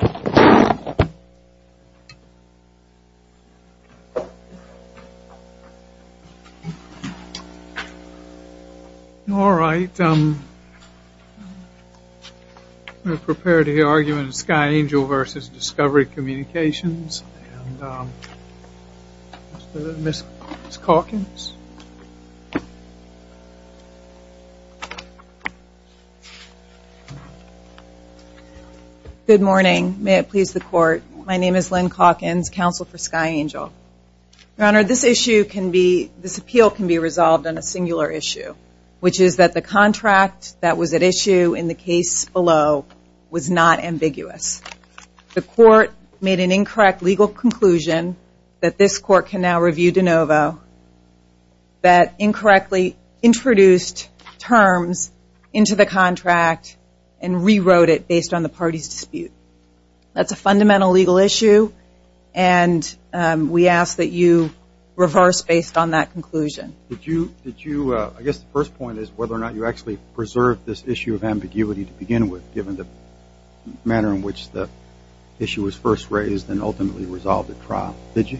All right, we're prepared to hear arguments, Sky Angel v. Discovery Communications, and Ms. Calkins? Good morning, may it please the court, my name is Lynn Calkins, counsel for Sky Angel. Your Honor, this issue can be, this appeal can be resolved on a singular issue, which is that the contract that was at issue in the case below was not ambiguous. The court made an incorrect legal conclusion that this court can now review de novo that incorrectly introduced terms into the contract and rewrote it based on the party's dispute. That's a fundamental legal issue, and we ask that you reverse based on that conclusion. Did you, I guess the first point is whether or not you actually preserved this issue of which the issue was first raised and ultimately resolved at trial, did you?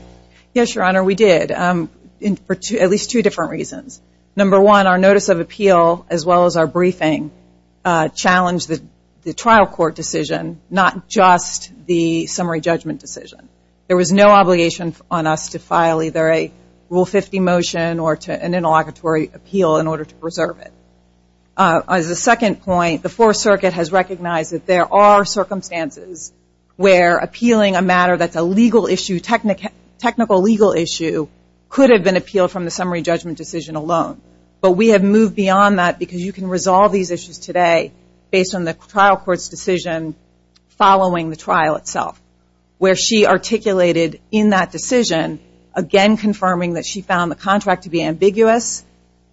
Yes, Your Honor, we did, for at least two different reasons. Number one, our notice of appeal, as well as our briefing, challenged the trial court decision, not just the summary judgment decision. There was no obligation on us to file either a Rule 50 motion or to an interlocutory appeal in order to preserve it. As a second point, the Fourth Circuit has recognized that there are circumstances where appealing a matter that's a legal issue, technical legal issue, could have been appealed from the summary judgment decision alone. But we have moved beyond that because you can resolve these issues today based on the trial court's decision following the trial itself, where she articulated in that decision, again confirming that she found the contract to be ambiguous,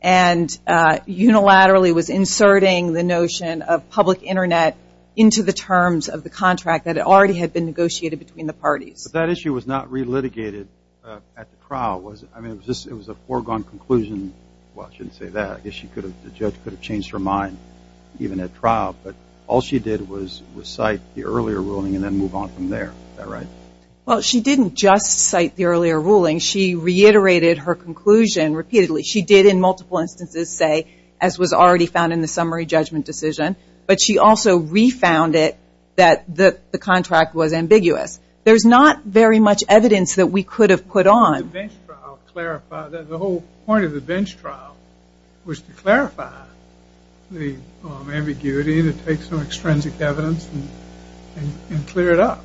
and unilaterally was inserting the notion of public internet into the terms of the contract that had already been negotiated between the parties. That issue was not re-litigated at the trial, was it? I mean, it was a foregone conclusion, well, I shouldn't say that, I guess the judge could have changed her mind, even at trial, but all she did was cite the earlier ruling and then move on from there, is that right? Well, she didn't just cite the earlier ruling, she reiterated her conclusion repeatedly. She did in multiple instances say, as was already found in the summary judgment decision, but she also re-found it that the contract was ambiguous. There's not very much evidence that we could have put on. The bench trial clarified, the whole point of the bench trial was to clarify the ambiguity that takes some extrinsic evidence and clear it up.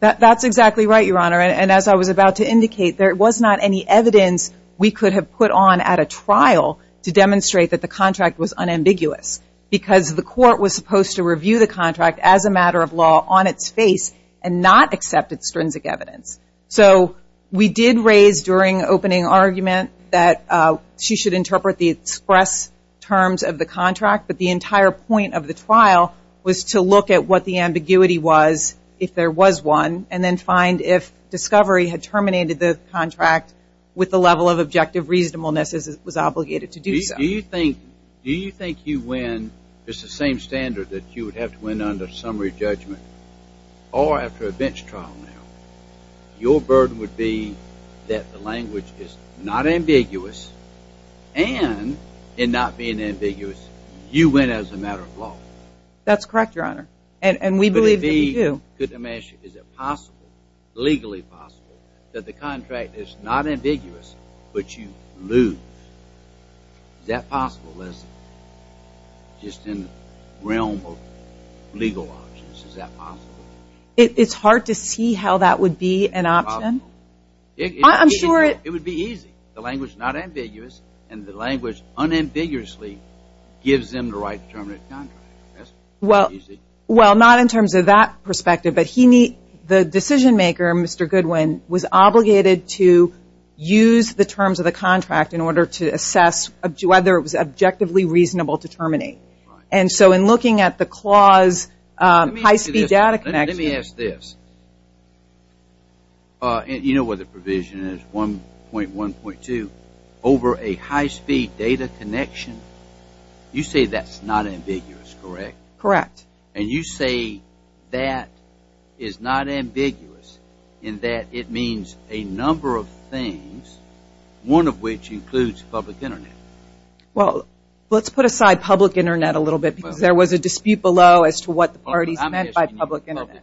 That's exactly right, Your Honor, and as I was about to indicate, there was not any evidence we could have put on at a trial to demonstrate that the contract was unambiguous, because the court was supposed to review the contract as a matter of law on its face and not accept extrinsic evidence. So we did raise during opening argument that she should interpret the express terms of the contract, but the entire point of the trial was to look at what the ambiguity was if there was one, and then find if discovery had terminated the contract with the level of objective reasonableness as it was obligated to do so. Do you think you win, just the same standard that you would have to win under summary judgment, or after a bench trial now, your burden would be that the language is not ambiguous and in not being ambiguous, you win as a matter of law? That's correct, Your Honor, and we believe that you do. Could it be, is it possible, legally possible, that the contract is not ambiguous, but you lose? Is that possible, Liz, just in the realm of legal options, is that possible? It's hard to see how that would be an option. It's possible. I'm sure it... It would be easy. The language is not ambiguous, and the language unambiguously gives them the right to terminate the contract. That's easy. Well, not in terms of that perspective, but the decision maker, Mr. Goodwin, was obligated to use the terms of the contract in order to assess whether it was objectively reasonable to terminate. Right. And so, in looking at the clause, high-speed data connection... over a high-speed data connection, you say that's not ambiguous, correct? Correct. And you say that is not ambiguous in that it means a number of things, one of which includes public Internet? Well, let's put aside public Internet a little bit because there was a dispute below as to what the parties meant by public Internet.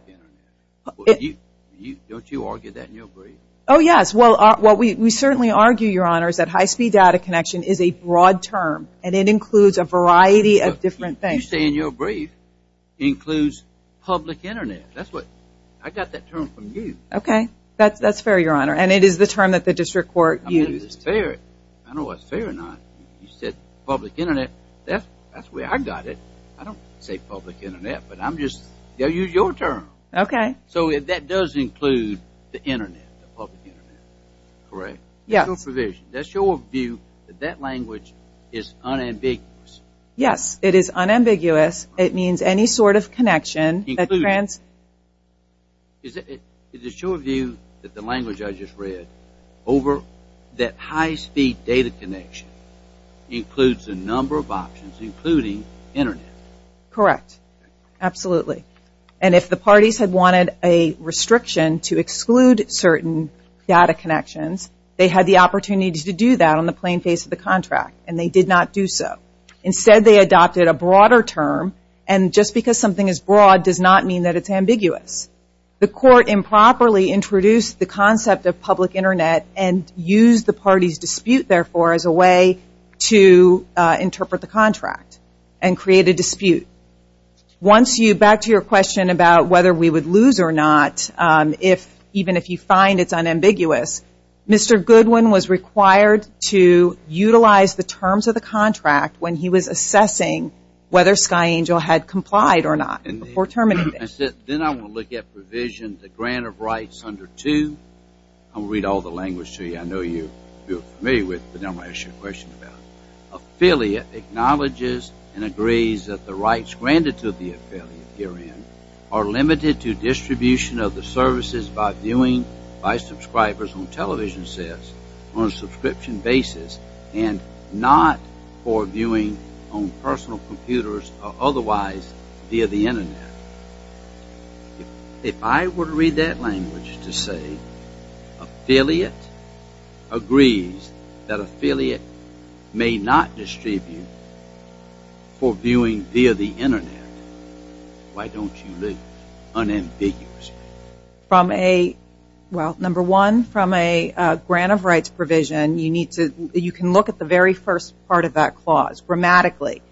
Don't you argue that in your brief? Oh, yes. Well, we certainly argue, Your Honor, that high-speed data connection is a broad term and it includes a variety of different things. You say in your brief it includes public Internet. That's what... I got that term from you. Okay. That's fair, Your Honor. And it is the term that the district court used. I mean, it's fair. I know it's fair or not. You said public Internet. That's the way I got it. I don't say public Internet, but I'm just... They'll use your term. Okay. So, that does include the Internet, the public Internet. Correct. Yes. That's your provision. That's your view that that language is unambiguous. Yes. It is unambiguous. It means any sort of connection that... Includes. Is it your view that the language I just read over that high-speed data connection includes a number of options, including Internet? Correct. Absolutely. Absolutely. And if the parties had wanted a restriction to exclude certain data connections, they had the opportunity to do that on the plain face of the contract, and they did not do so. Instead, they adopted a broader term, and just because something is broad does not mean that it's ambiguous. The court improperly introduced the concept of public Internet and used the party's dispute, therefore, as a way to interpret the contract and create a dispute. Once you, back to your question about whether we would lose or not, if, even if you find it's unambiguous, Mr. Goodwin was required to utilize the terms of the contract when he was assessing whether Sky Angel had complied or not before terminating. Then I'm going to look at provision, the grant of rights under 2, I'm going to read all the language to you. I know you're familiar with it, but I'm going to ask you a question about it. Affiliate acknowledges and agrees that the rights granted to the affiliate herein are limited to distribution of the services by viewing by subscribers on television sets on a subscription basis and not for viewing on personal computers or otherwise via the Internet. If I were to read that language to say affiliate agrees that affiliate may not distribute for viewing via the Internet, why don't you lose unambiguously? From a, well, number one, from a grant of rights provision, you need to, you can look at the very first part of that clause, grammatically.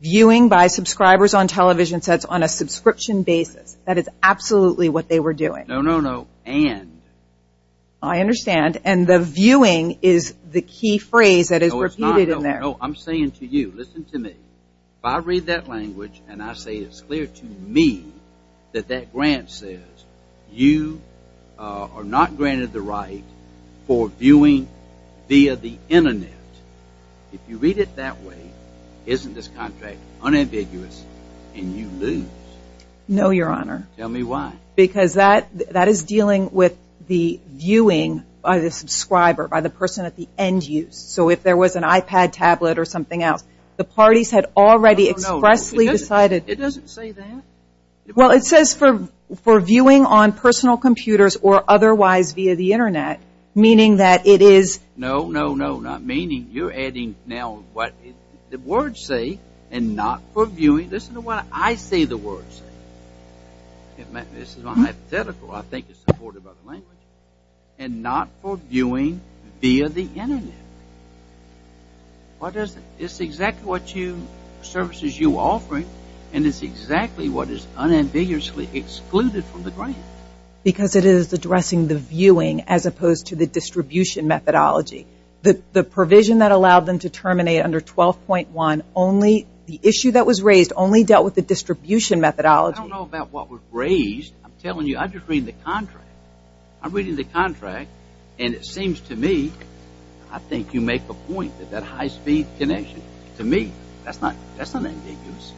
Viewing by subscribers on television sets on a subscription basis, that is absolutely what they were doing. No, no, no, and. I understand, and the viewing is the key phrase that is repeated in there. I'm saying to you, listen to me, if I read that language and I say it's clear to me that that grant says you are not granted the right for viewing via the Internet, if you read it that way, isn't this contract unambiguous and you lose? No your honor. Tell me why. Because that is dealing with the viewing by the subscriber, by the person at the end use. So if there was an iPad tablet or something else, the parties had already expressly decided. It doesn't say that. Well it says for viewing on personal computers or otherwise via the Internet, meaning that it is. No, no, no, not meaning, you're adding now what the words say and not for viewing. Listen to what I say the words say. This is my hypothetical, I think it's supportive of the language, and not for viewing via the Internet. Why does it, it's exactly what you, services you're offering and it's exactly what is unambiguously excluded from the grant. Because it is addressing the viewing as opposed to the distribution methodology. The provision that allowed them to terminate under 12.1 only, the issue that was raised only dealt with the distribution methodology. I don't know about what was raised, I'm telling you, I just read the contract, I'm reading the contract and it seems to me, I think you make the point that that high speed connection, to me, that's not, that's unambiguous,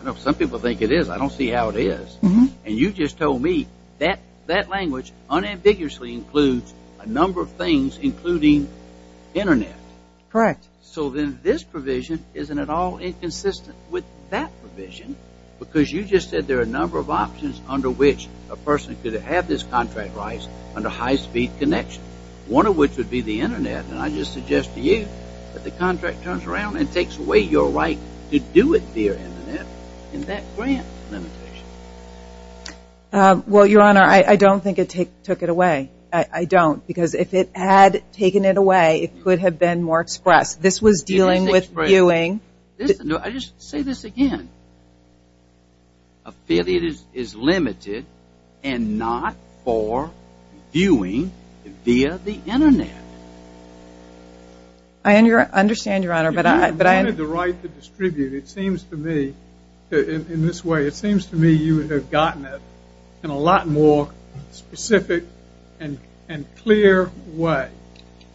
I know some people think it is, I don't see how it is. And you just told me that language unambiguously includes a number of things including Internet. So then this provision isn't at all inconsistent with that provision because you just said there are a number of options under which a person could have this contract rights under high speed connection. One of which would be the Internet and I just suggest to you that the contract turns around and takes away your right to do it via Internet in that grant limitation. Well your honor, I don't think it took it away, I don't, because if it had taken it away it could have been more expressed. This was dealing with viewing. I just say this again, affiliate is limited and not for viewing via the Internet. I understand your honor, but I. If you wanted the right to distribute, it seems to me, in this way, it seems to me you would have gotten it in a lot more specific and clear way.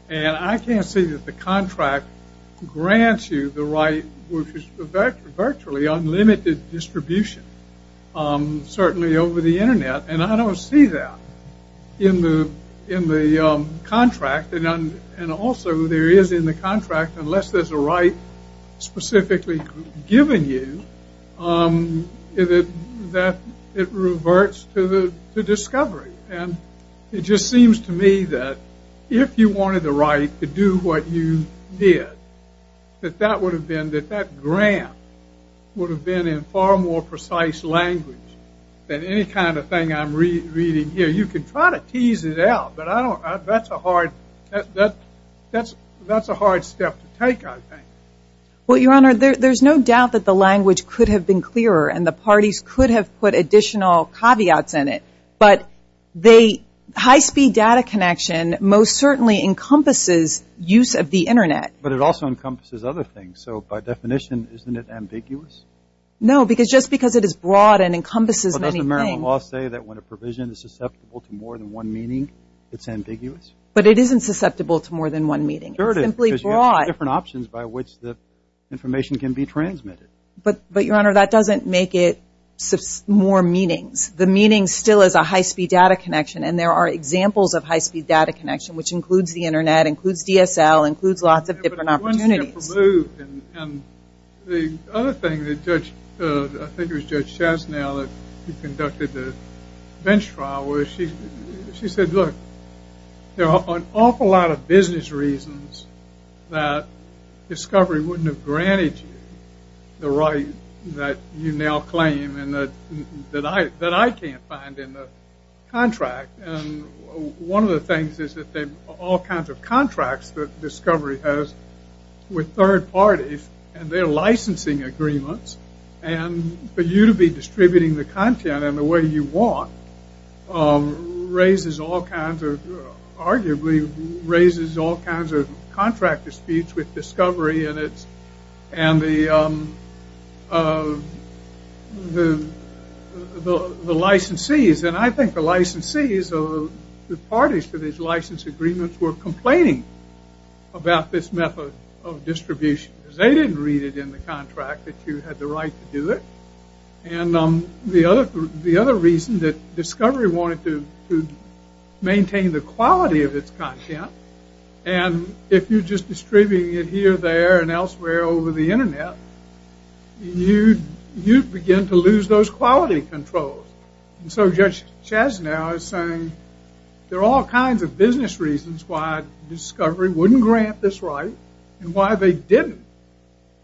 And I can't see that the contract grants you the right which is virtually unlimited distribution. Certainly over the Internet and I don't see that in the contract and also there is in the contract, unless there's a right specifically given you, that it reverts to discovery. And it just seems to me that if you wanted the right to do what you did, that that would have been in far more precise language than any kind of thing I'm reading here. You can try to tease it out, but I don't, that's a hard, that's a hard step to take I think. Well your honor, there's no doubt that the language could have been clearer and the parties could have put additional caveats in it, but they, high speed data connection most certainly encompasses use of the Internet. But it also encompasses other things, so by definition, isn't it ambiguous? No, because just because it is broad and encompasses many things. But doesn't the Maryland law say that when a provision is susceptible to more than one meaning it's ambiguous? But it isn't susceptible to more than one meaning. It's simply broad. Because you have different options by which the information can be transmitted. But your honor, that doesn't make it more meanings. The meaning still is a high speed data connection and there are examples of high speed data connection which includes the Internet, includes DSL, includes lots of different opportunities. And the other thing that Judge, I think it was Judge Chastanel that conducted the bench trial where she said look, there are an awful lot of business reasons that discovery wouldn't have granted you the right that you now claim and that I can't find in the contract. And one of the things is that all kinds of contracts that discovery has with third parties and their licensing agreements and for you to be distributing the content in the way you want raises all kinds of, arguably, raises all kinds of contract disputes with discovery and the licensees. And I think the licensees, the parties to these license agreements were complaining about this method of distribution. They didn't read it in the contract that you had the right to do it. And the other reason that discovery wanted to maintain the quality of its content and if you're just distributing it here, there, and elsewhere over the Internet, you begin to lose those quality controls. So Judge Chastanel is saying there are all kinds of business reasons why discovery wouldn't grant this right and why they didn't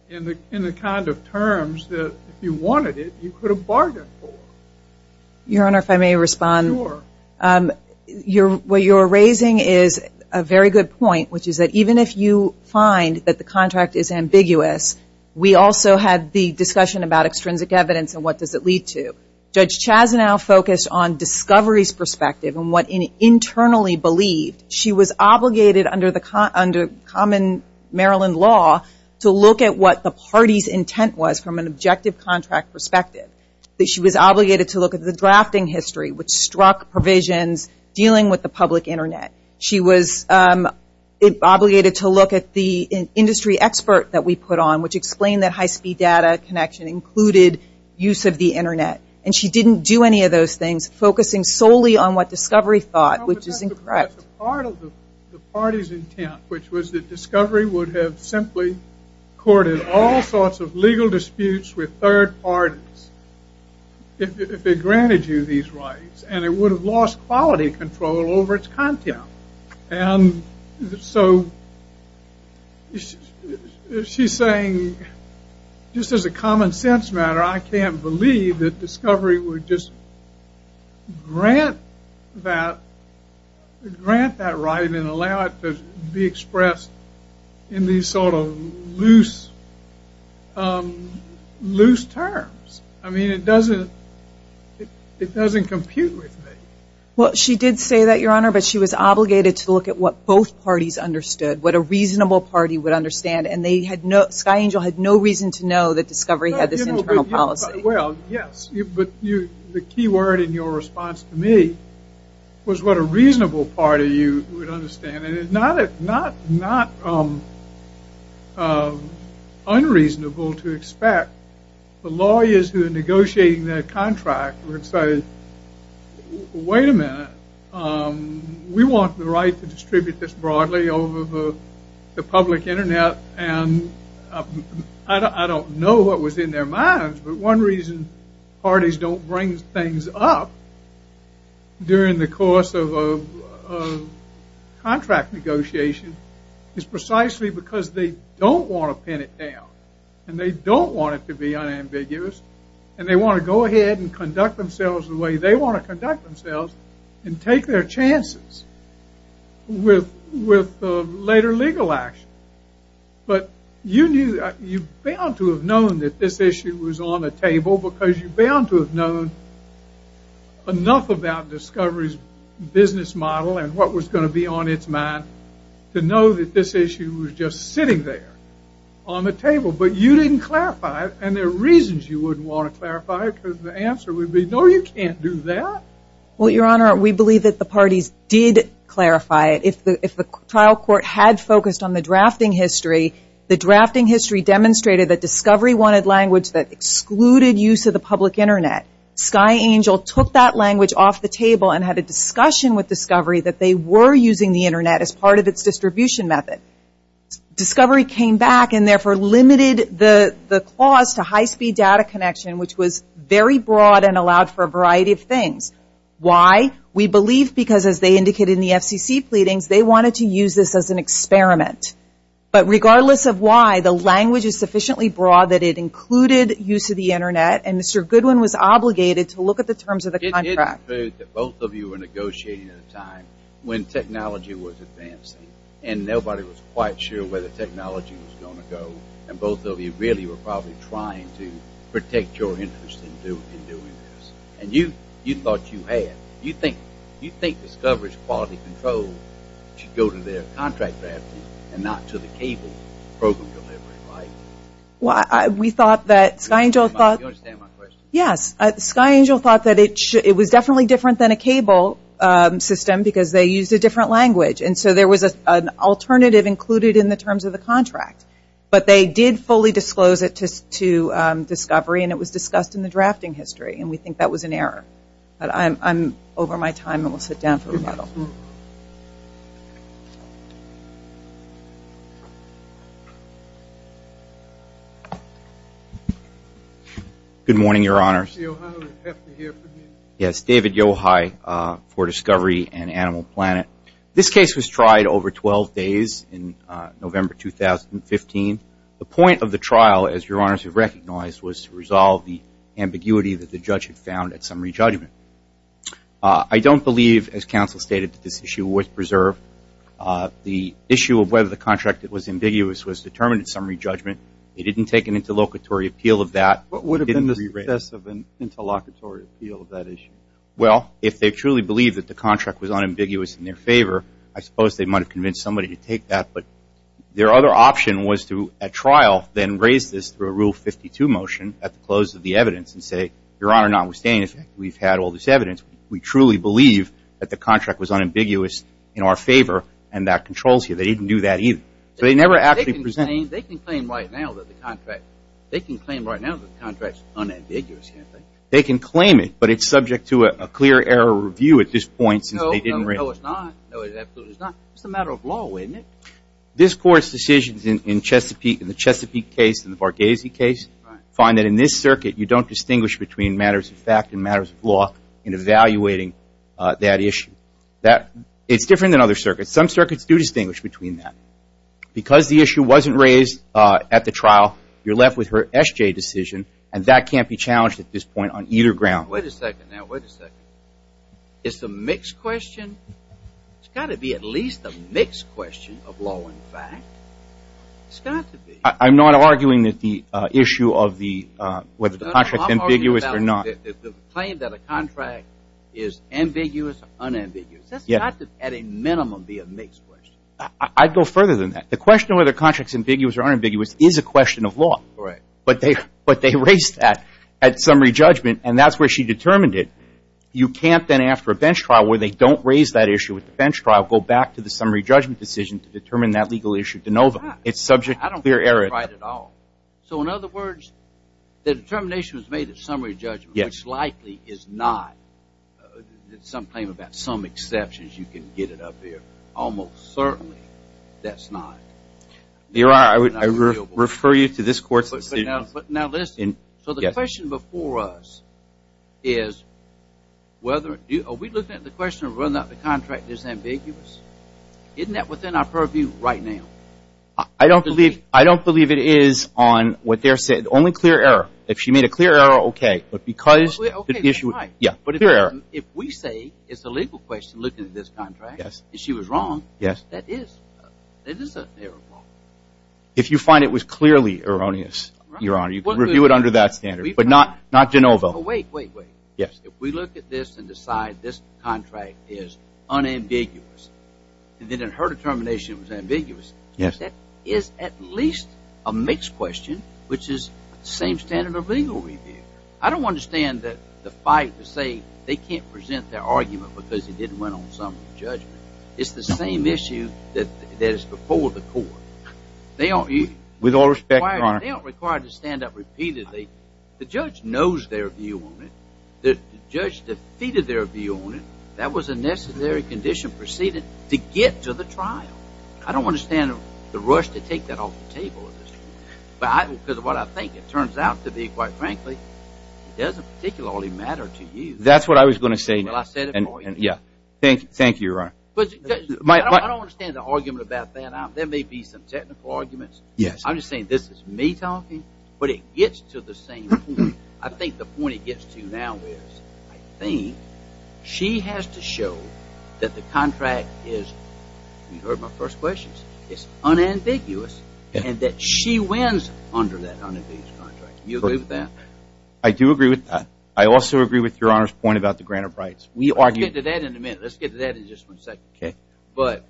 in the kind of terms that if you wanted it, you could have bargained for. Your Honor, if I may respond, what you're raising is a very good point, which is that even if you find that the contract is ambiguous, we also had the discussion about extrinsic evidence and what does it lead to. Judge Chastanel focused on discovery's perspective and what internally believed she was obligated under common Maryland law to look at what the party's intent was from an objective contract perspective. She was obligated to look at the drafting history, which struck provisions dealing with the public Internet. She was obligated to look at the industry expert that we put on, which explained that high speed data connection included use of the Internet. And she didn't do any of those things, focusing solely on what discovery thought, which is incorrect. Part of the party's intent, which was that discovery would have simply courted all sorts of legal disputes with third parties if it granted you these rights, and it would have lost quality control over its content. And so she's saying, just as a common sense matter, I can't believe that discovery would just grant that right and allow it to be expressed in these sort of loose terms. I mean, it doesn't compute with me. She did say that, Your Honor, but she was obligated to look at what both parties understood, what a reasonable party would understand, and Sky Angel had no reason to know that discovery had this internal policy. Well, yes. But the key word in your response to me was what a reasonable party you would understand. And it's not unreasonable to expect the lawyers who are negotiating that contract would say, wait a minute. We want the right to distribute this broadly over the public Internet, and I don't know what was in their minds. But one reason parties don't bring things up during the course of a contract negotiation is precisely because they don't want to pin it down, and they don't want it to be unambiguous, and they want to go ahead and conduct themselves the way they want to conduct themselves and take their chances with later legal action. But you knew, you're bound to have known that this issue was on the table because you're bound to have known enough about Discovery's business model and what was going to be on its mind to know that this issue was just sitting there on the table. But you didn't clarify it, and there are reasons you wouldn't want to clarify it because the answer would be, no, you can't do that. Well, Your Honor, we believe that the parties did clarify it. If the trial court had focused on the drafting history, the drafting history demonstrated that Discovery wanted language that excluded use of the public Internet. Sky Angel took that language off the table and had a discussion with Discovery that they were using the Internet as part of its distribution method. Discovery came back and therefore limited the clause to high speed data connection, which was very broad and allowed for a variety of things. Why? We believe because as they indicated in the FCC pleadings, they wanted to use this as an experiment. But regardless of why, the language is sufficiently broad that it included use of the Internet and Mr. Goodwin was obligated to look at the terms of the contract. It did include that both of you were negotiating at a time when technology was advancing and nobody was quite sure where the technology was going to go and both of you really were probably trying to protect your interests in doing this. And you thought you had. You think Discovery's quality control should go to their contract draftees and not to the cable program delivery, right? We thought that Sky Angel thought that it was definitely different than a cable system because they used a different language and so there was an alternative included in the terms of the contract. But they did fully disclose it to Discovery and it was discussed in the drafting history and we think that was an error. But I'm over my time and will sit down for rebuttal. Good morning, Your Honor. Mr. Yohai, we have to hear from you. Yes, David Yohai for Discovery and Animal Planet. This case was tried over 12 days in November 2015. The point of the trial, as Your Honors have recognized, was to resolve the ambiguity that the judge had found at summary judgment. I don't believe, as counsel stated, that this issue was preserved. The issue of whether the contract was ambiguous was determined at summary judgment. They didn't take an interlocutory appeal of that. What would have been the success of an interlocutory appeal of that issue? Well, if they truly believed that the contract was unambiguous in their favor, I suppose they might have convinced somebody to take that. But their other option was to, at trial, then raise this through a Rule 52 motion at the close of the evidence and say, Your Honor, notwithstanding the fact that we've had all this evidence, we truly believe that the contract was unambiguous in our favor and that controls you. They didn't do that either. So they never actually presented it. They can claim right now that the contract's unambiguous, can't they? They can claim it, but it's subject to a clear error review at this point since they didn't raise it. No, it's not. No, it absolutely is not. It's a matter of law, isn't it? This Court's decisions in the Chesapeake case and the Varghese case find that in this circuit, you don't distinguish between matters of fact and matters of law in evaluating that issue. It's different than other circuits. Some circuits do distinguish between that. Because the issue wasn't raised at the trial, you're left with her S.J. decision, and that can't be challenged at this point on either ground. Wait a second now. Wait a second. It's a mixed question? It's got to be at least a mixed question of law and fact. It's got to be. I'm not arguing that the issue of whether the contract's ambiguous or not. No, no. I'm arguing that the claim that a contract is ambiguous or unambiguous, that's got to at a minimum be a mixed question. I'd go further than that. The question of whether the contract's ambiguous or unambiguous is a question of law. Right. But they raised that at summary judgment, and that's where she determined it. You can't then after a bench trial where they don't raise that issue at the bench trial go back to the summary judgment decision to determine that legal issue de novo. No, it's not. It's subject to clear error. I don't think you're right at all. So in other words, the determination was made at summary judgment, which likely is not that some claim about some exceptions you can get it up here. Almost certainly that's not. Your Honor, I refer you to this court's decision. But now listen. So the question before us is are we looking at the question of whether or not the contract is ambiguous? Isn't that within our purview right now? I don't believe it is on what they're saying. Only clear error. If she made a clear error, okay. But because the issue... Okay, you're right. Yeah. But a clear error. If we say it's a legal question looking at this contract, if she was wrong, that is. It is a clear error. If you find it was clearly erroneous, Your Honor, you can review it under that standard. But not de novo. But wait, wait, wait. Yes. If we look at this and decide this contract is unambiguous and that her determination was ambiguous, that is at least a mixed question, which is same standard of legal review. I don't understand that the fight to say they can't present their argument because it didn't went on summary judgment. It's the same issue that is before the court. They don't... With all respect, Your Honor... They don't require to stand up repeatedly. The judge knows their view on it. The judge defeated their view on it. That was a necessary condition preceded to get to the trial. I don't understand the rush to take that off the table, because what I think it turns out to be, quite frankly, it doesn't particularly matter to you. That's what I was going to say. Well, I said it before. Yeah. Thank you. Thank you, Your Honor. I don't understand the argument about that. There may be some technical arguments. Yes. I'm just saying this is me talking, but it gets to the same point. I think the point it gets to now is, I think, she has to show that the contract is, you heard my first questions, it's unambiguous, and that she wins under that unambiguous contract. You agree with that? I do agree with that. I also agree with Your Honor's point about the grant of rights. We argue... Let's get to that in a minute. Let's get to that in just one second. Okay. But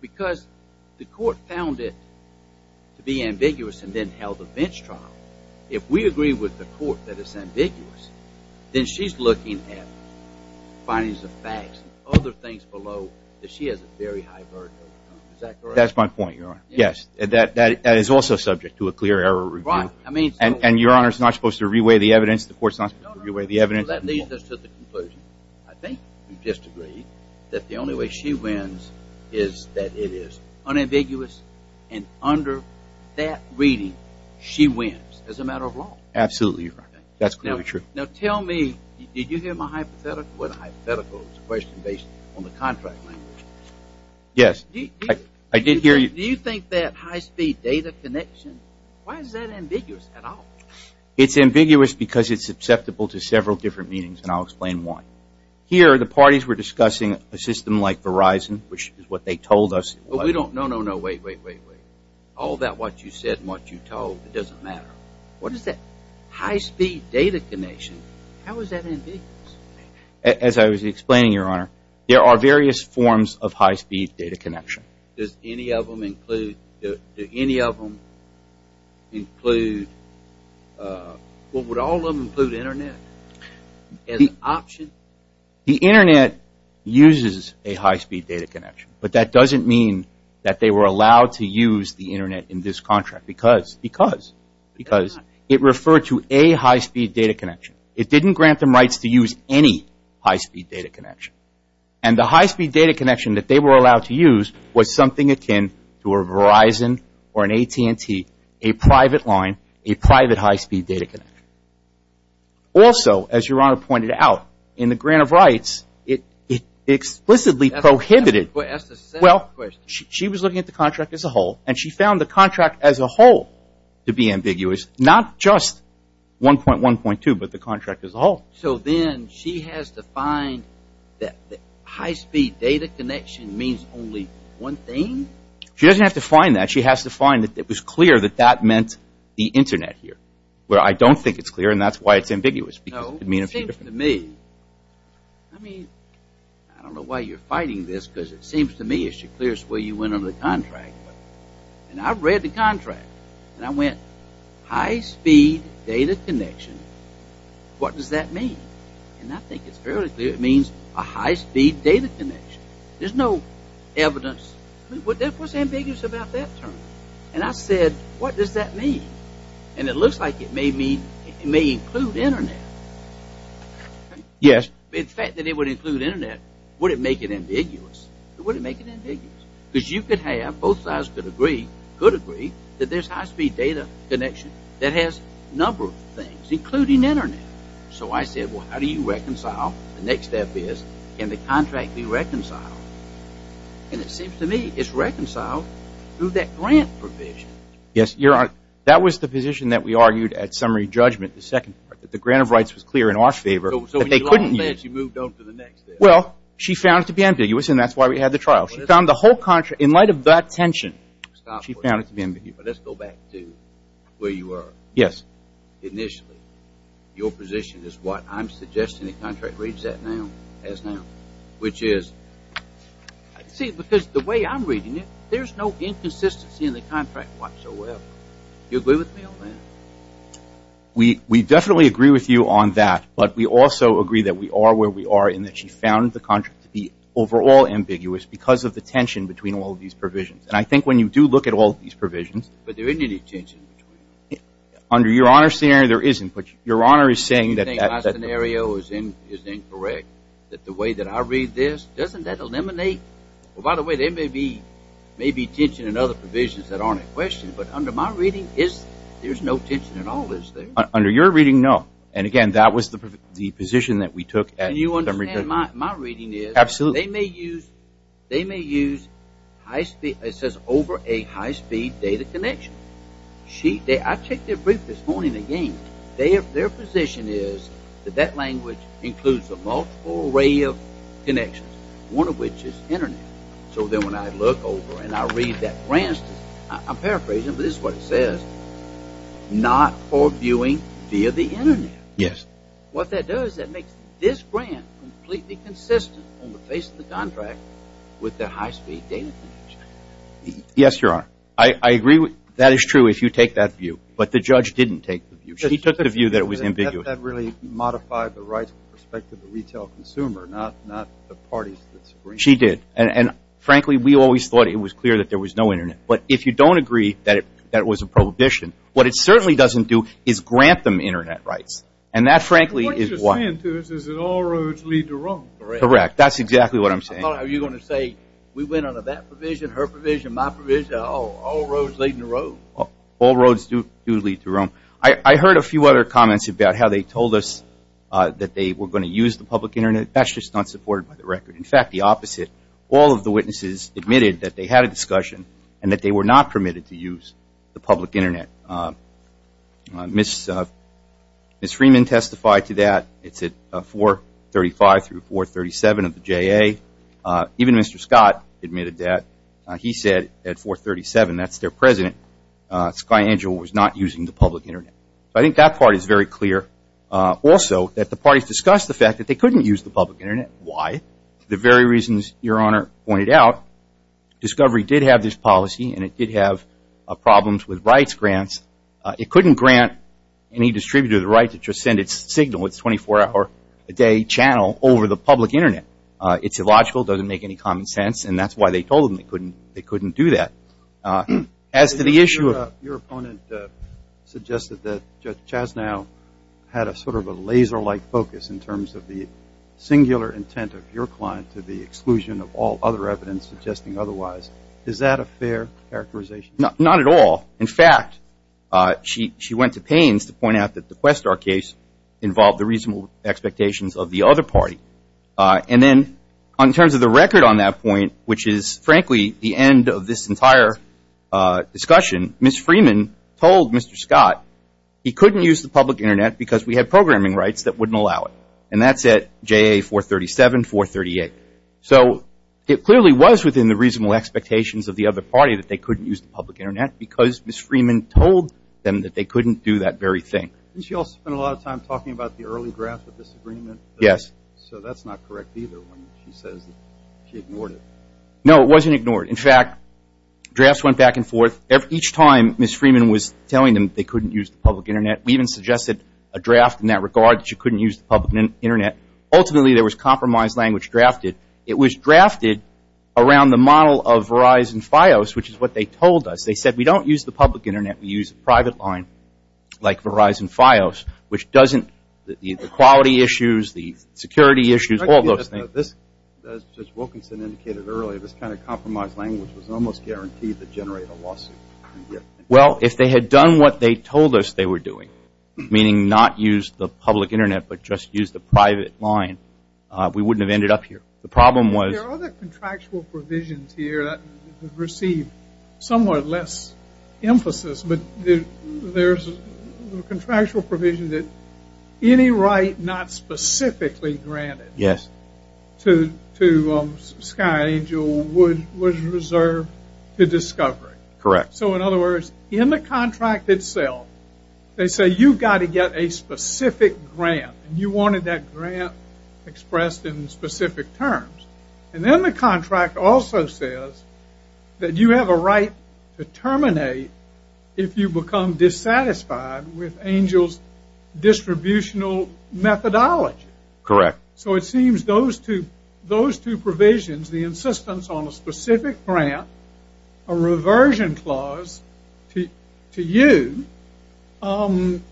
because the court found it to be ambiguous and then held a bench trial, if we agree with the court that it's ambiguous, then she's looking at findings of facts and other things below that she has a very high verdict on. Is that correct? That's my point, Your Honor. Yes. That is also subject to a clear error review. Right. I mean... And Your Honor's not supposed to re-weigh the evidence. The court's not supposed to re-weigh the evidence. No, no, no. That leads us to the conclusion. I think we've just agreed that the only way she wins is that it is unambiguous, and under that reading, she wins as a matter of law. Absolutely, Your Honor. That's clearly true. Now tell me, did you hear my hypothetical? It wasn't a hypothetical. It was a question based on the contract language. Yes. I did hear you. Do you think that high-speed data connection, why is that ambiguous at all? It's ambiguous because it's susceptible to several different meanings, and I'll explain Here, the parties were discussing a system like Verizon, which is what they told us. But we don't... No, no, no. Wait, wait, wait, wait. All that what you said and what you told, it doesn't matter. What is that? High-speed data connection, how is that ambiguous? As I was explaining, Your Honor, there are various forms of high-speed data connection. Does any of them include, do any of them include, well, would all of them include Internet as an option? The Internet uses a high-speed data connection, but that doesn't mean that they were allowed to use the Internet in this contract because, because, because it referred to a high-speed data connection. It didn't grant them rights to use any high-speed data connection. And the high-speed data connection that they were allowed to use was something akin to a Verizon or an AT&T, a private line, a private high-speed data connection. Also, as Your Honor pointed out, in the grant of rights, it explicitly prohibited... Ask the second question. Well, she was looking at the contract as a whole, and she found the contract as a whole to be ambiguous, not just 1.1.2, but the contract as a whole. So then she has to find that the high-speed data connection means only one thing? She doesn't have to find that. She has to find that it was clear that that meant the Internet here. Well, I don't think it's clear, and that's why it's ambiguous. No, it seems to me... I mean, I don't know why you're fighting this, because it seems to me it's the clearest way you went under the contract. And I read the contract, and I went, high-speed data connection, what does that mean? And I think it's fairly clear it means a high-speed data connection. There's no evidence. I mean, what's ambiguous about that term? And I said, what does that mean? And it looks like it may include Internet. Yes. The fact that it would include Internet, would it make it ambiguous? It wouldn't make it ambiguous, because you could have, both sides could agree, that there's high-speed data connection that has a number of things, including Internet. So I said, well, how do you reconcile? The next step is, can the contract be reconciled? And it seems to me it's reconciled through that grant provision. Yes, Your Honor, that was the position that we argued at summary judgment, the second part, that the grant of rights was clear in our favor. So you moved on to the next step. Well, she found it to be ambiguous, and that's why we had the trial. She found the whole contract, in light of that tension, she found it to be ambiguous. But let's go back to where you were initially. Your position is what I'm suggesting the contract reads as now, which is... See, because the way I'm reading it, there's no inconsistency in the contract whatsoever. Do you agree with me on that? We definitely agree with you on that, but we also agree that we are where we are in that she found the contract to be overall ambiguous because of the tension between all of these provisions. And I think when you do look at all of these provisions... But there isn't any tension between them. Under Your Honor's scenario, there isn't. But Your Honor is saying that... I think my scenario is incorrect, that the way that I read this, doesn't that eliminate... Well, by the way, there may be tension in other provisions that aren't in question, but under my reading, there's no tension at all, is there? Under your reading, no. And again, that was the position that we took... And you understand my reading is... Absolutely. They may use high-speed... It says over a high-speed data connection. I checked their brief this morning again. Their position is that that language includes a multiple array of connections, one of which is Internet. So then when I look over and I read that grant... I'm paraphrasing, but this is what it says. Not for viewing via the Internet. Yes. What that does is that makes this grant completely consistent on the face of the contract with the high-speed data connection. Yes, Your Honor. I agree with... That is true if you take that view, but the judge didn't take the view. She took the view that it was ambiguous. That really modified the rights with respect to the retail consumer, not the parties. She did. And, frankly, we always thought it was clear that there was no Internet. But if you don't agree that it was a prohibition, what it certainly doesn't do is grant them Internet rights. And that, frankly, is why. What you're saying to us is that all roads lead to Rome. Correct. That's exactly what I'm saying. I thought you were going to say we went under that provision, her provision, my provision. All roads lead to Rome. All roads do lead to Rome. I heard a few other comments about how they told us that they were going to use the public Internet. That's just not supported by the record. In fact, the opposite. All of the witnesses admitted that they had a discussion and that they were not permitted to use the public Internet. Ms. Freeman testified to that. It's at 435 through 437 of the JA. Even Mr. Scott admitted that. He said at 437, that's their president, Sky Angel, was not using the public Internet. I think that part is very clear. Also, that the parties discussed the fact that they couldn't use the public Internet. Why? The very reasons Your Honor pointed out, Discovery did have this policy and it did have problems with rights grants. It couldn't grant any distributor the right to just send its signal, its 24-hour-a-day channel, over the public Internet. It's illogical. It doesn't make any common sense. And that's why they told them they couldn't do that. As to the issue of Your opponent suggested that Judge Chasnow had a sort of a laser-like focus in terms of the singular intent of your client to the exclusion of all other evidence suggesting otherwise. Is that a fair characterization? Not at all. In fact, she went to pains to point out that the Questar case involved the reasonable expectations of the other party. And then, in terms of the record on that point, which is, frankly, the end of this entire discussion, Ms. Freeman told Mr. Scott he couldn't use the public Internet because we had programming rights that wouldn't allow it. And that's at JA 437, 438. So it clearly was within the reasonable expectations of the other party that they couldn't use the public Internet because Ms. Freeman told them that they couldn't do that very thing. Didn't she also spend a lot of time talking about the early draft of this agreement? Yes. So that's not correct either when she says she ignored it. No, it wasn't ignored. In fact, drafts went back and forth. Each time Ms. Freeman was telling them they couldn't use the public Internet, we even suggested a draft in that regard that you couldn't use the public Internet. Ultimately, there was compromise language drafted. It was drafted around the model of Verizon Fios, which is what they told us. They said we don't use the public Internet. We use a private line like Verizon Fios, which doesn't – security issues, all those things. As Judge Wilkinson indicated earlier, this kind of compromise language was almost guaranteed to generate a lawsuit. Well, if they had done what they told us they were doing, meaning not use the public Internet but just use the private line, we wouldn't have ended up here. The problem was – There are other contractual provisions here that receive somewhat less emphasis, but there's a contractual provision that any right not specifically granted to Sky Angel was reserved to discovery. Correct. So, in other words, in the contract itself, they say you've got to get a specific grant, and you wanted that grant expressed in specific terms. And then the contract also says that you have a right to terminate if you become dissatisfied with Angel's distributional methodology. Correct. So it seems those two provisions, the insistence on a specific grant, a reversion clause to you, and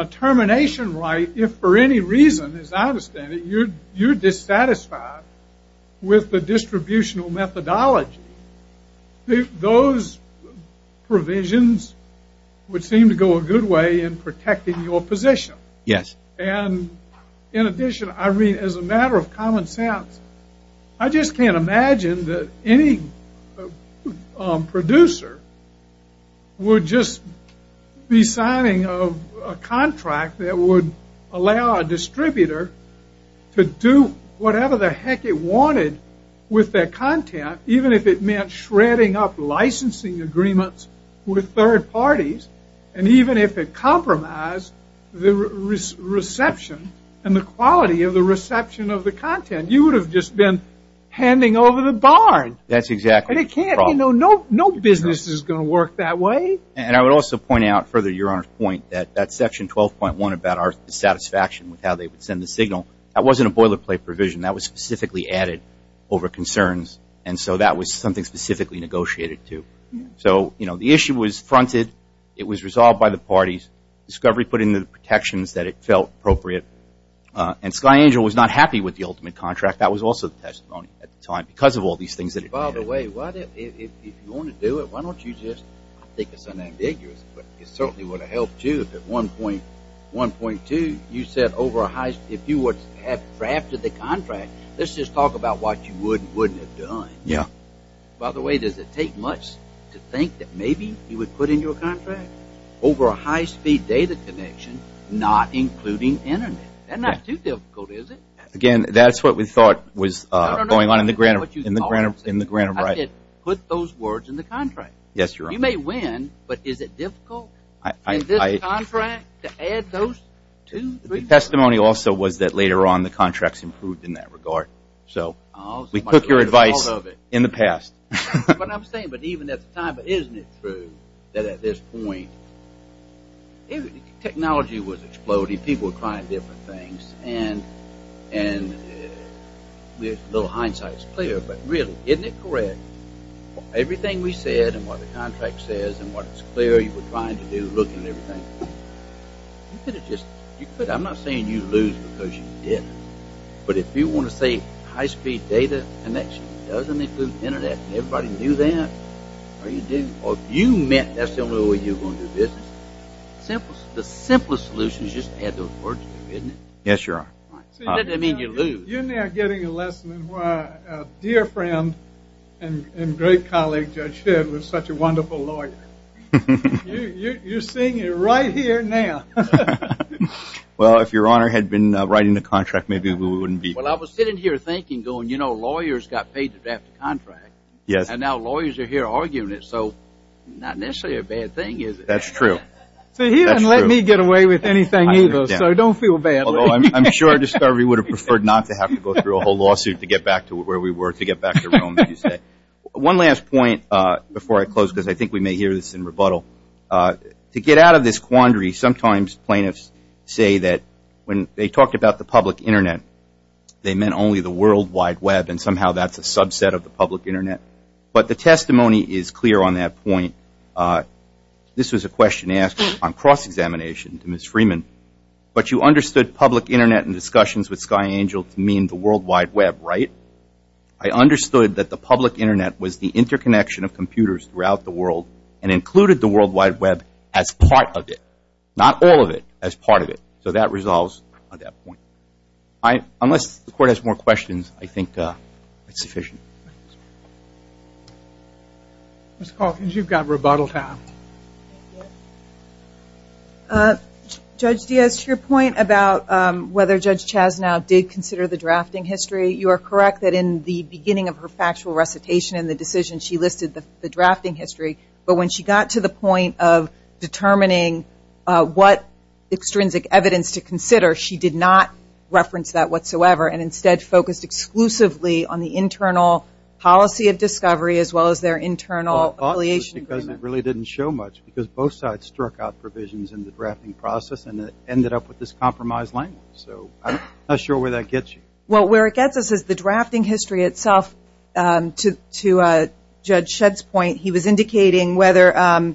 a termination right if for any reason, as I understand it, you're dissatisfied with the distributional methodology, those provisions would seem to go a good way in protecting your position. Yes. And in addition, I mean, as a matter of common sense, I just can't imagine that any producer would just be signing a contract that would allow a distributor to do whatever the heck it wanted with their content, even if it meant shredding up licensing agreements with third parties, and even if it compromised the reception and the quality of the reception of the content. You would have just been handing over the barn. That's exactly the problem. No business is going to work that way. And I would also point out, further to Your Honor's point, that that section 12.1 about our dissatisfaction with how they would send the signal, that wasn't a boilerplate provision. That was specifically added over concerns. And so that was something specifically negotiated to. So, you know, the issue was fronted. It was resolved by the parties. Discovery put in the protections that it felt appropriate. And Sky Angel was not happy with the ultimate contract. That was also the testimony at the time because of all these things that it had. By the way, if you want to do it, why don't you just, I think it's unambiguous, but it certainly would have helped, too, if at 1.2 you said over a high, if you had drafted the contract, let's just talk about what you would and wouldn't have done. Yeah. By the way, does it take much to think that maybe you would put in your contract over a high-speed data connection, not including Internet? That's not too difficult, is it? Again, that's what we thought was going on in the grant of right. I said put those words in the contract. Yes, Your Honor. You may win, but is it difficult in this contract to add those two, three words? The testimony also was that later on the contracts improved in that regard. So we took your advice in the past. But I'm saying, but even at the time, but isn't it true that at this point, technology was exploding, people were trying different things, and with little hindsight it's clear, but really, isn't it correct, everything we said and what the contract says and what it's clear you were trying to do, looking at everything, you could have just, I'm not saying you lose because you didn't, but if you want to say high-speed data connection doesn't include Internet, and everybody knew that, or you do, or you meant that's the only way you were going to do business, the simplest solution is just to add those words to it, isn't it? Yes, Your Honor. You're now getting a lesson in why a dear friend and great colleague, Judge Shedd, was such a wonderful lawyer. You're seeing it right here now. Well, if Your Honor had been writing the contract, maybe we wouldn't be here. Well, I was sitting here thinking, going, you know, lawyers got paid to draft the contract, and now lawyers are here arguing it, so not necessarily a bad thing, is it? That's true. See, he doesn't let me get away with anything either, so don't feel bad. I'm sure Discovery would have preferred not to have to go through a whole lawsuit to get back to where we were, to get back to Rome, as you say. One last point before I close, because I think we may hear this in rebuttal. To get out of this quandary, sometimes plaintiffs say that when they talked about the public Internet, they meant only the World Wide Web, and somehow that's a subset of the public Internet. But the testimony is clear on that point. This was a question asked on cross-examination to Ms. Freeman. But you understood public Internet and discussions with Sky Angel to mean the World Wide Web, right? I understood that the public Internet was the interconnection of computers throughout the world and included the World Wide Web as part of it, not all of it, as part of it. So that resolves on that point. Unless the Court has more questions, I think that's sufficient. Ms. Calkins, you've got rebuttal time. Judge Diaz, to your point about whether Judge Chasnow did consider the drafting history, you are correct that in the beginning of her factual recitation and the decision she listed the drafting history. But when she got to the point of determining what extrinsic evidence to consider, she did not reference that whatsoever and instead focused exclusively on the internal policy of discovery as well as their internal affiliation agreement. It really didn't show much because both sides struck out provisions in the drafting process and ended up with this compromised language. I'm not sure where that gets you. Well, where it gets us is the drafting history itself. To Judge Shedd's point, he was indicating whether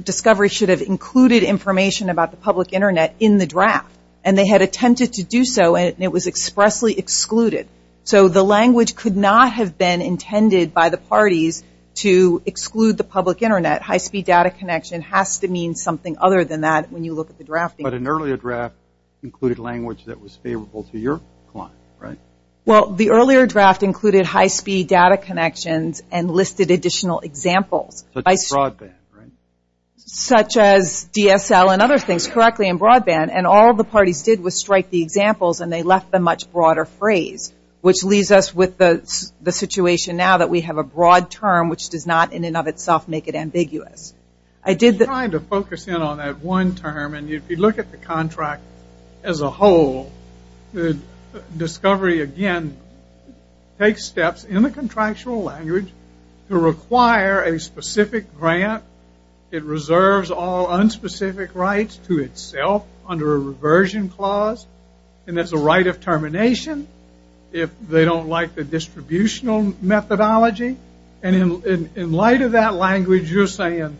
discovery should have included information about the public Internet in the draft. And they had attempted to do so, and it was expressly excluded. So the language could not have been intended by the parties to exclude the public Internet. High-speed data connection has to mean something other than that when you look at the drafting. But an earlier draft included language that was favorable to your client, right? Well, the earlier draft included high-speed data connections and listed additional examples. Such as broadband, right? Such as DSL and other things, correctly, and broadband. And all the parties did was strike the examples, and they left a much broader phrase, which leaves us with the situation now that we have a broad term, which does not in and of itself make it ambiguous. I'm trying to focus in on that one term. And if you look at the contract as a whole, discovery, again, takes steps in the contractual language to require a specific grant. It reserves all unspecific rights to itself under a reversion clause. And there's a right of termination if they don't like the distributional methodology. And in light of that language, you're saying,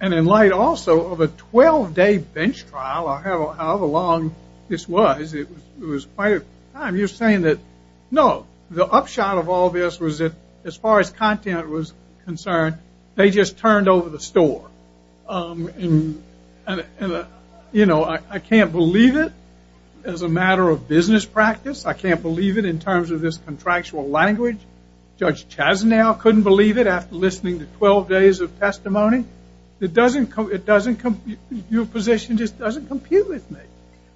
and in light also of a 12-day bench trial, however long this was, it was quite a time. You're saying that, no, the upshot of all this was that as far as content was concerned, they just turned over the store. And, you know, I can't believe it. As a matter of business practice, I can't believe it in terms of this contractual language. Judge Chasnow couldn't believe it after listening to 12 days of testimony. It doesn't compute. Your position just doesn't compute with me.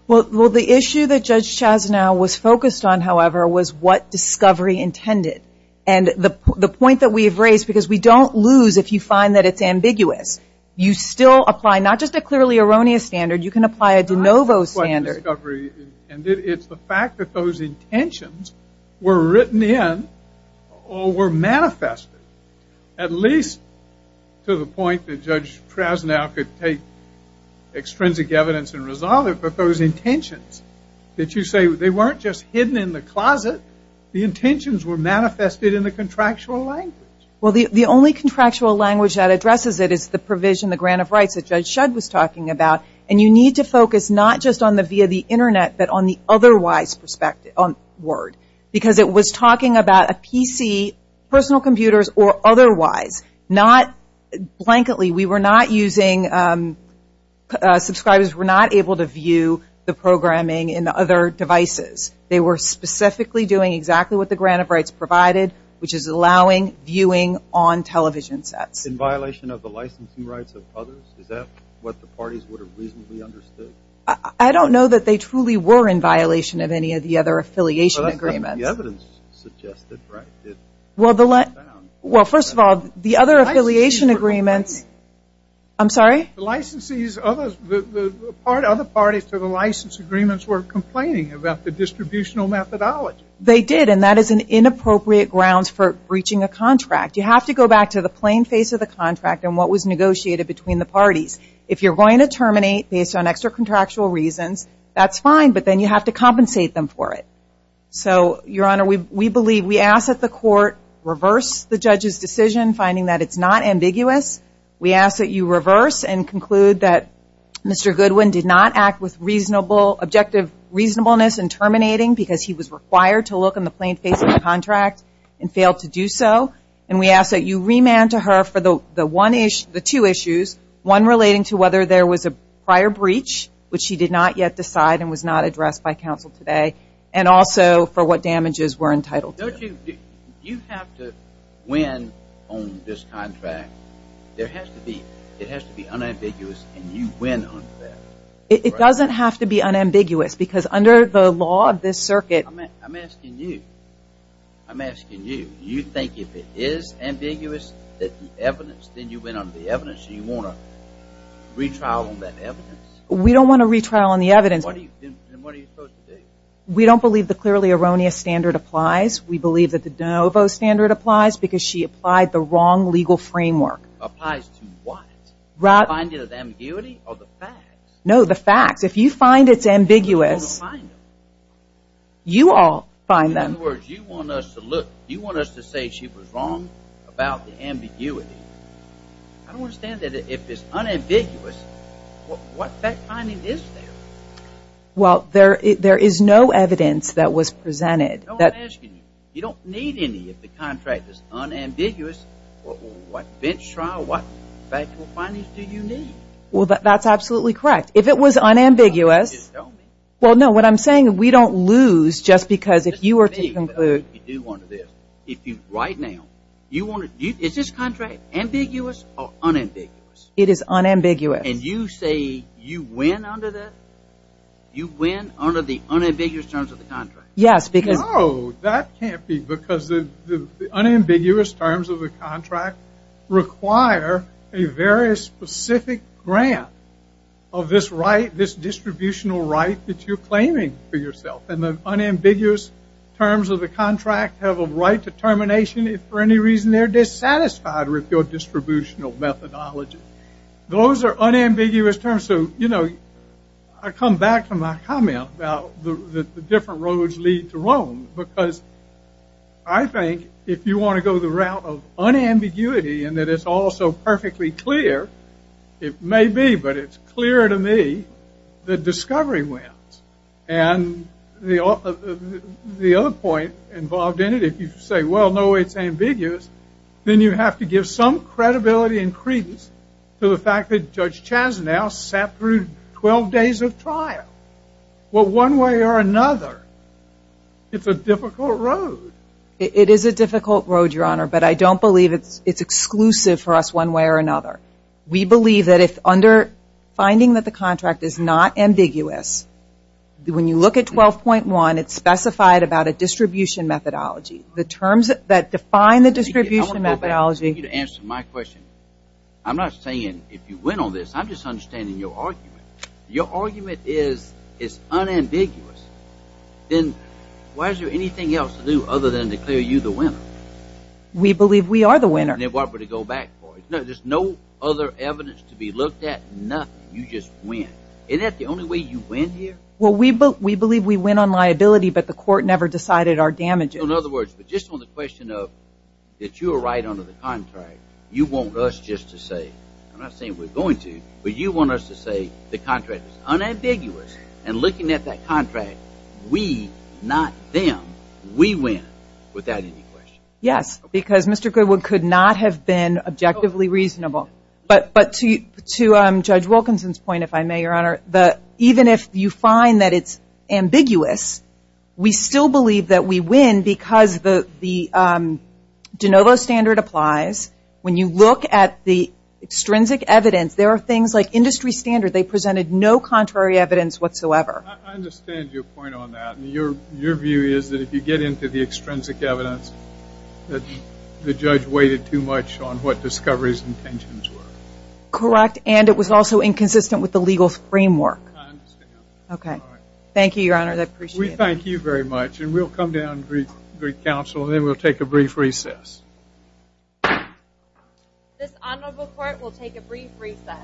Well, the issue that Judge Chasnow was focused on, however, was what discovery intended. And the point that we've raised, because we don't lose if you find that it's ambiguous, you still apply not just a clearly erroneous standard, you can apply a de novo standard. And it's the fact that those intentions were written in or were manifested, at least to the point that Judge Chasnow could take extrinsic evidence and resolve it. But those intentions that you say, they weren't just hidden in the closet. The intentions were manifested in the contractual language. Well, the only contractual language that addresses it is the provision, the grant of rights, that Judge Shudd was talking about. And you need to focus not just on the via the Internet, but on the otherwise word. Because it was talking about a PC, personal computers, or otherwise. Not blankly. We were not using, subscribers were not able to view the programming in the other devices. They were specifically doing exactly what the grant of rights provided, which is allowing viewing on television sets. In violation of the licensing rights of others? Is that what the parties would have reasonably understood? I don't know that they truly were in violation of any of the other affiliation agreements. But that's what the evidence suggested, right? Well, first of all, the other affiliation agreements, I'm sorry? The licensees, the other parties to the license agreements were complaining about the distributional methodology. They did. And that is an inappropriate grounds for breaching a contract. You have to go back to the plain face of the contract and what was negotiated between the parties. If you're going to terminate based on extra-contractual reasons, that's fine. But then you have to compensate them for it. So, Your Honor, we believe, we ask that the court reverse the judge's decision, finding that it's not ambiguous. We ask that you reverse and conclude that Mr. Goodwin did not act with reasonable, objective reasonableness in terminating because he was required to look in the plain face of the contract and failed to do so. And we ask that you remand to her for the two issues, one relating to whether there was a prior breach, which she did not yet decide and was not addressed by counsel today, and also for what damages were entitled to. Don't you have to win on this contract? It has to be unambiguous and you win on that. It doesn't have to be unambiguous because under the law of this circuit... I'm asking you. I'm asking you. Do you think if it is ambiguous that the evidence, then you win on the evidence and you want a retrial on that evidence? We don't want a retrial on the evidence. Then what are you supposed to do? We don't believe the clearly erroneous standard applies. We believe that the de novo standard applies because she applied the wrong legal framework. Applies to what? The finding of ambiguity or the facts? No, the facts. If you find it's ambiguous, you all find them. In other words, you want us to say she was wrong about the ambiguity. I don't understand that if it's unambiguous, what fact finding is there? Well, there is no evidence that was presented. I'm asking you. You don't need any if the contract is unambiguous. What bench trial, what factual findings do you need? Well, that's absolutely correct. If it was unambiguous, well, no. What I'm saying is we don't lose just because if you were to conclude. Right now, is this contract ambiguous or unambiguous? It is unambiguous. And you say you win under that? You win under the unambiguous terms of the contract? Yes. No, that can't be because the unambiguous terms of the contract require a very specific grant of this right, this distributional right that you're claiming for yourself. And the unambiguous terms of the contract have a right to termination if for any reason they're dissatisfied with your distributional methodology. Those are unambiguous terms. So, you know, I come back to my comment about the different roads lead to Rome because I think if you want to go the route of unambiguity and that it's also perfectly clear, it may be, but it's clear to me that discovery wins. And the other point involved in it, if you say, well, no, it's ambiguous, then you have to give some credibility and credence to the fact that Judge Chazenow sat through 12 days of trial. Well, one way or another, it's a difficult road. It is a difficult road, Your Honor, but I don't believe it's exclusive for us one way or another. We believe that if under finding that the contract is not ambiguous, when you look at 12.1, it's specified about a distribution methodology. The terms that define the distribution methodology. I want you to answer my question. I'm not saying if you win on this. I'm just understanding your argument. Your argument is it's unambiguous. Then why is there anything else to do other than declare you the winner? We believe we are the winner. Then what would it go back for? There's no other evidence to be looked at, nothing. You just win. Isn't that the only way you win here? Well, we believe we win on liability, but the court never decided our damages. In other words, but just on the question of that you were right under the contract, you want us just to say, I'm not saying we're going to, but you want us to say the contract is unambiguous, and looking at that contract, we, not them, we win without any question. Yes, because Mr. Goodwood could not have been objectively reasonable. But to Judge Wilkinson's point, if I may, Your Honor, even if you find that it's ambiguous, we still believe that we win because the de novo standard applies. When you look at the extrinsic evidence, there are things like industry standard, they presented no contrary evidence whatsoever. I understand your point on that, and your view is that if you get into the extrinsic evidence, that the judge waited too much on what discovery's intentions were. Correct, and it was also inconsistent with the legal framework. I understand. Okay. All right. Thank you, Your Honor, I appreciate it. We thank you very much, and we'll come down and brief counsel, and then we'll take a brief recess. This honorable court will take a brief recess.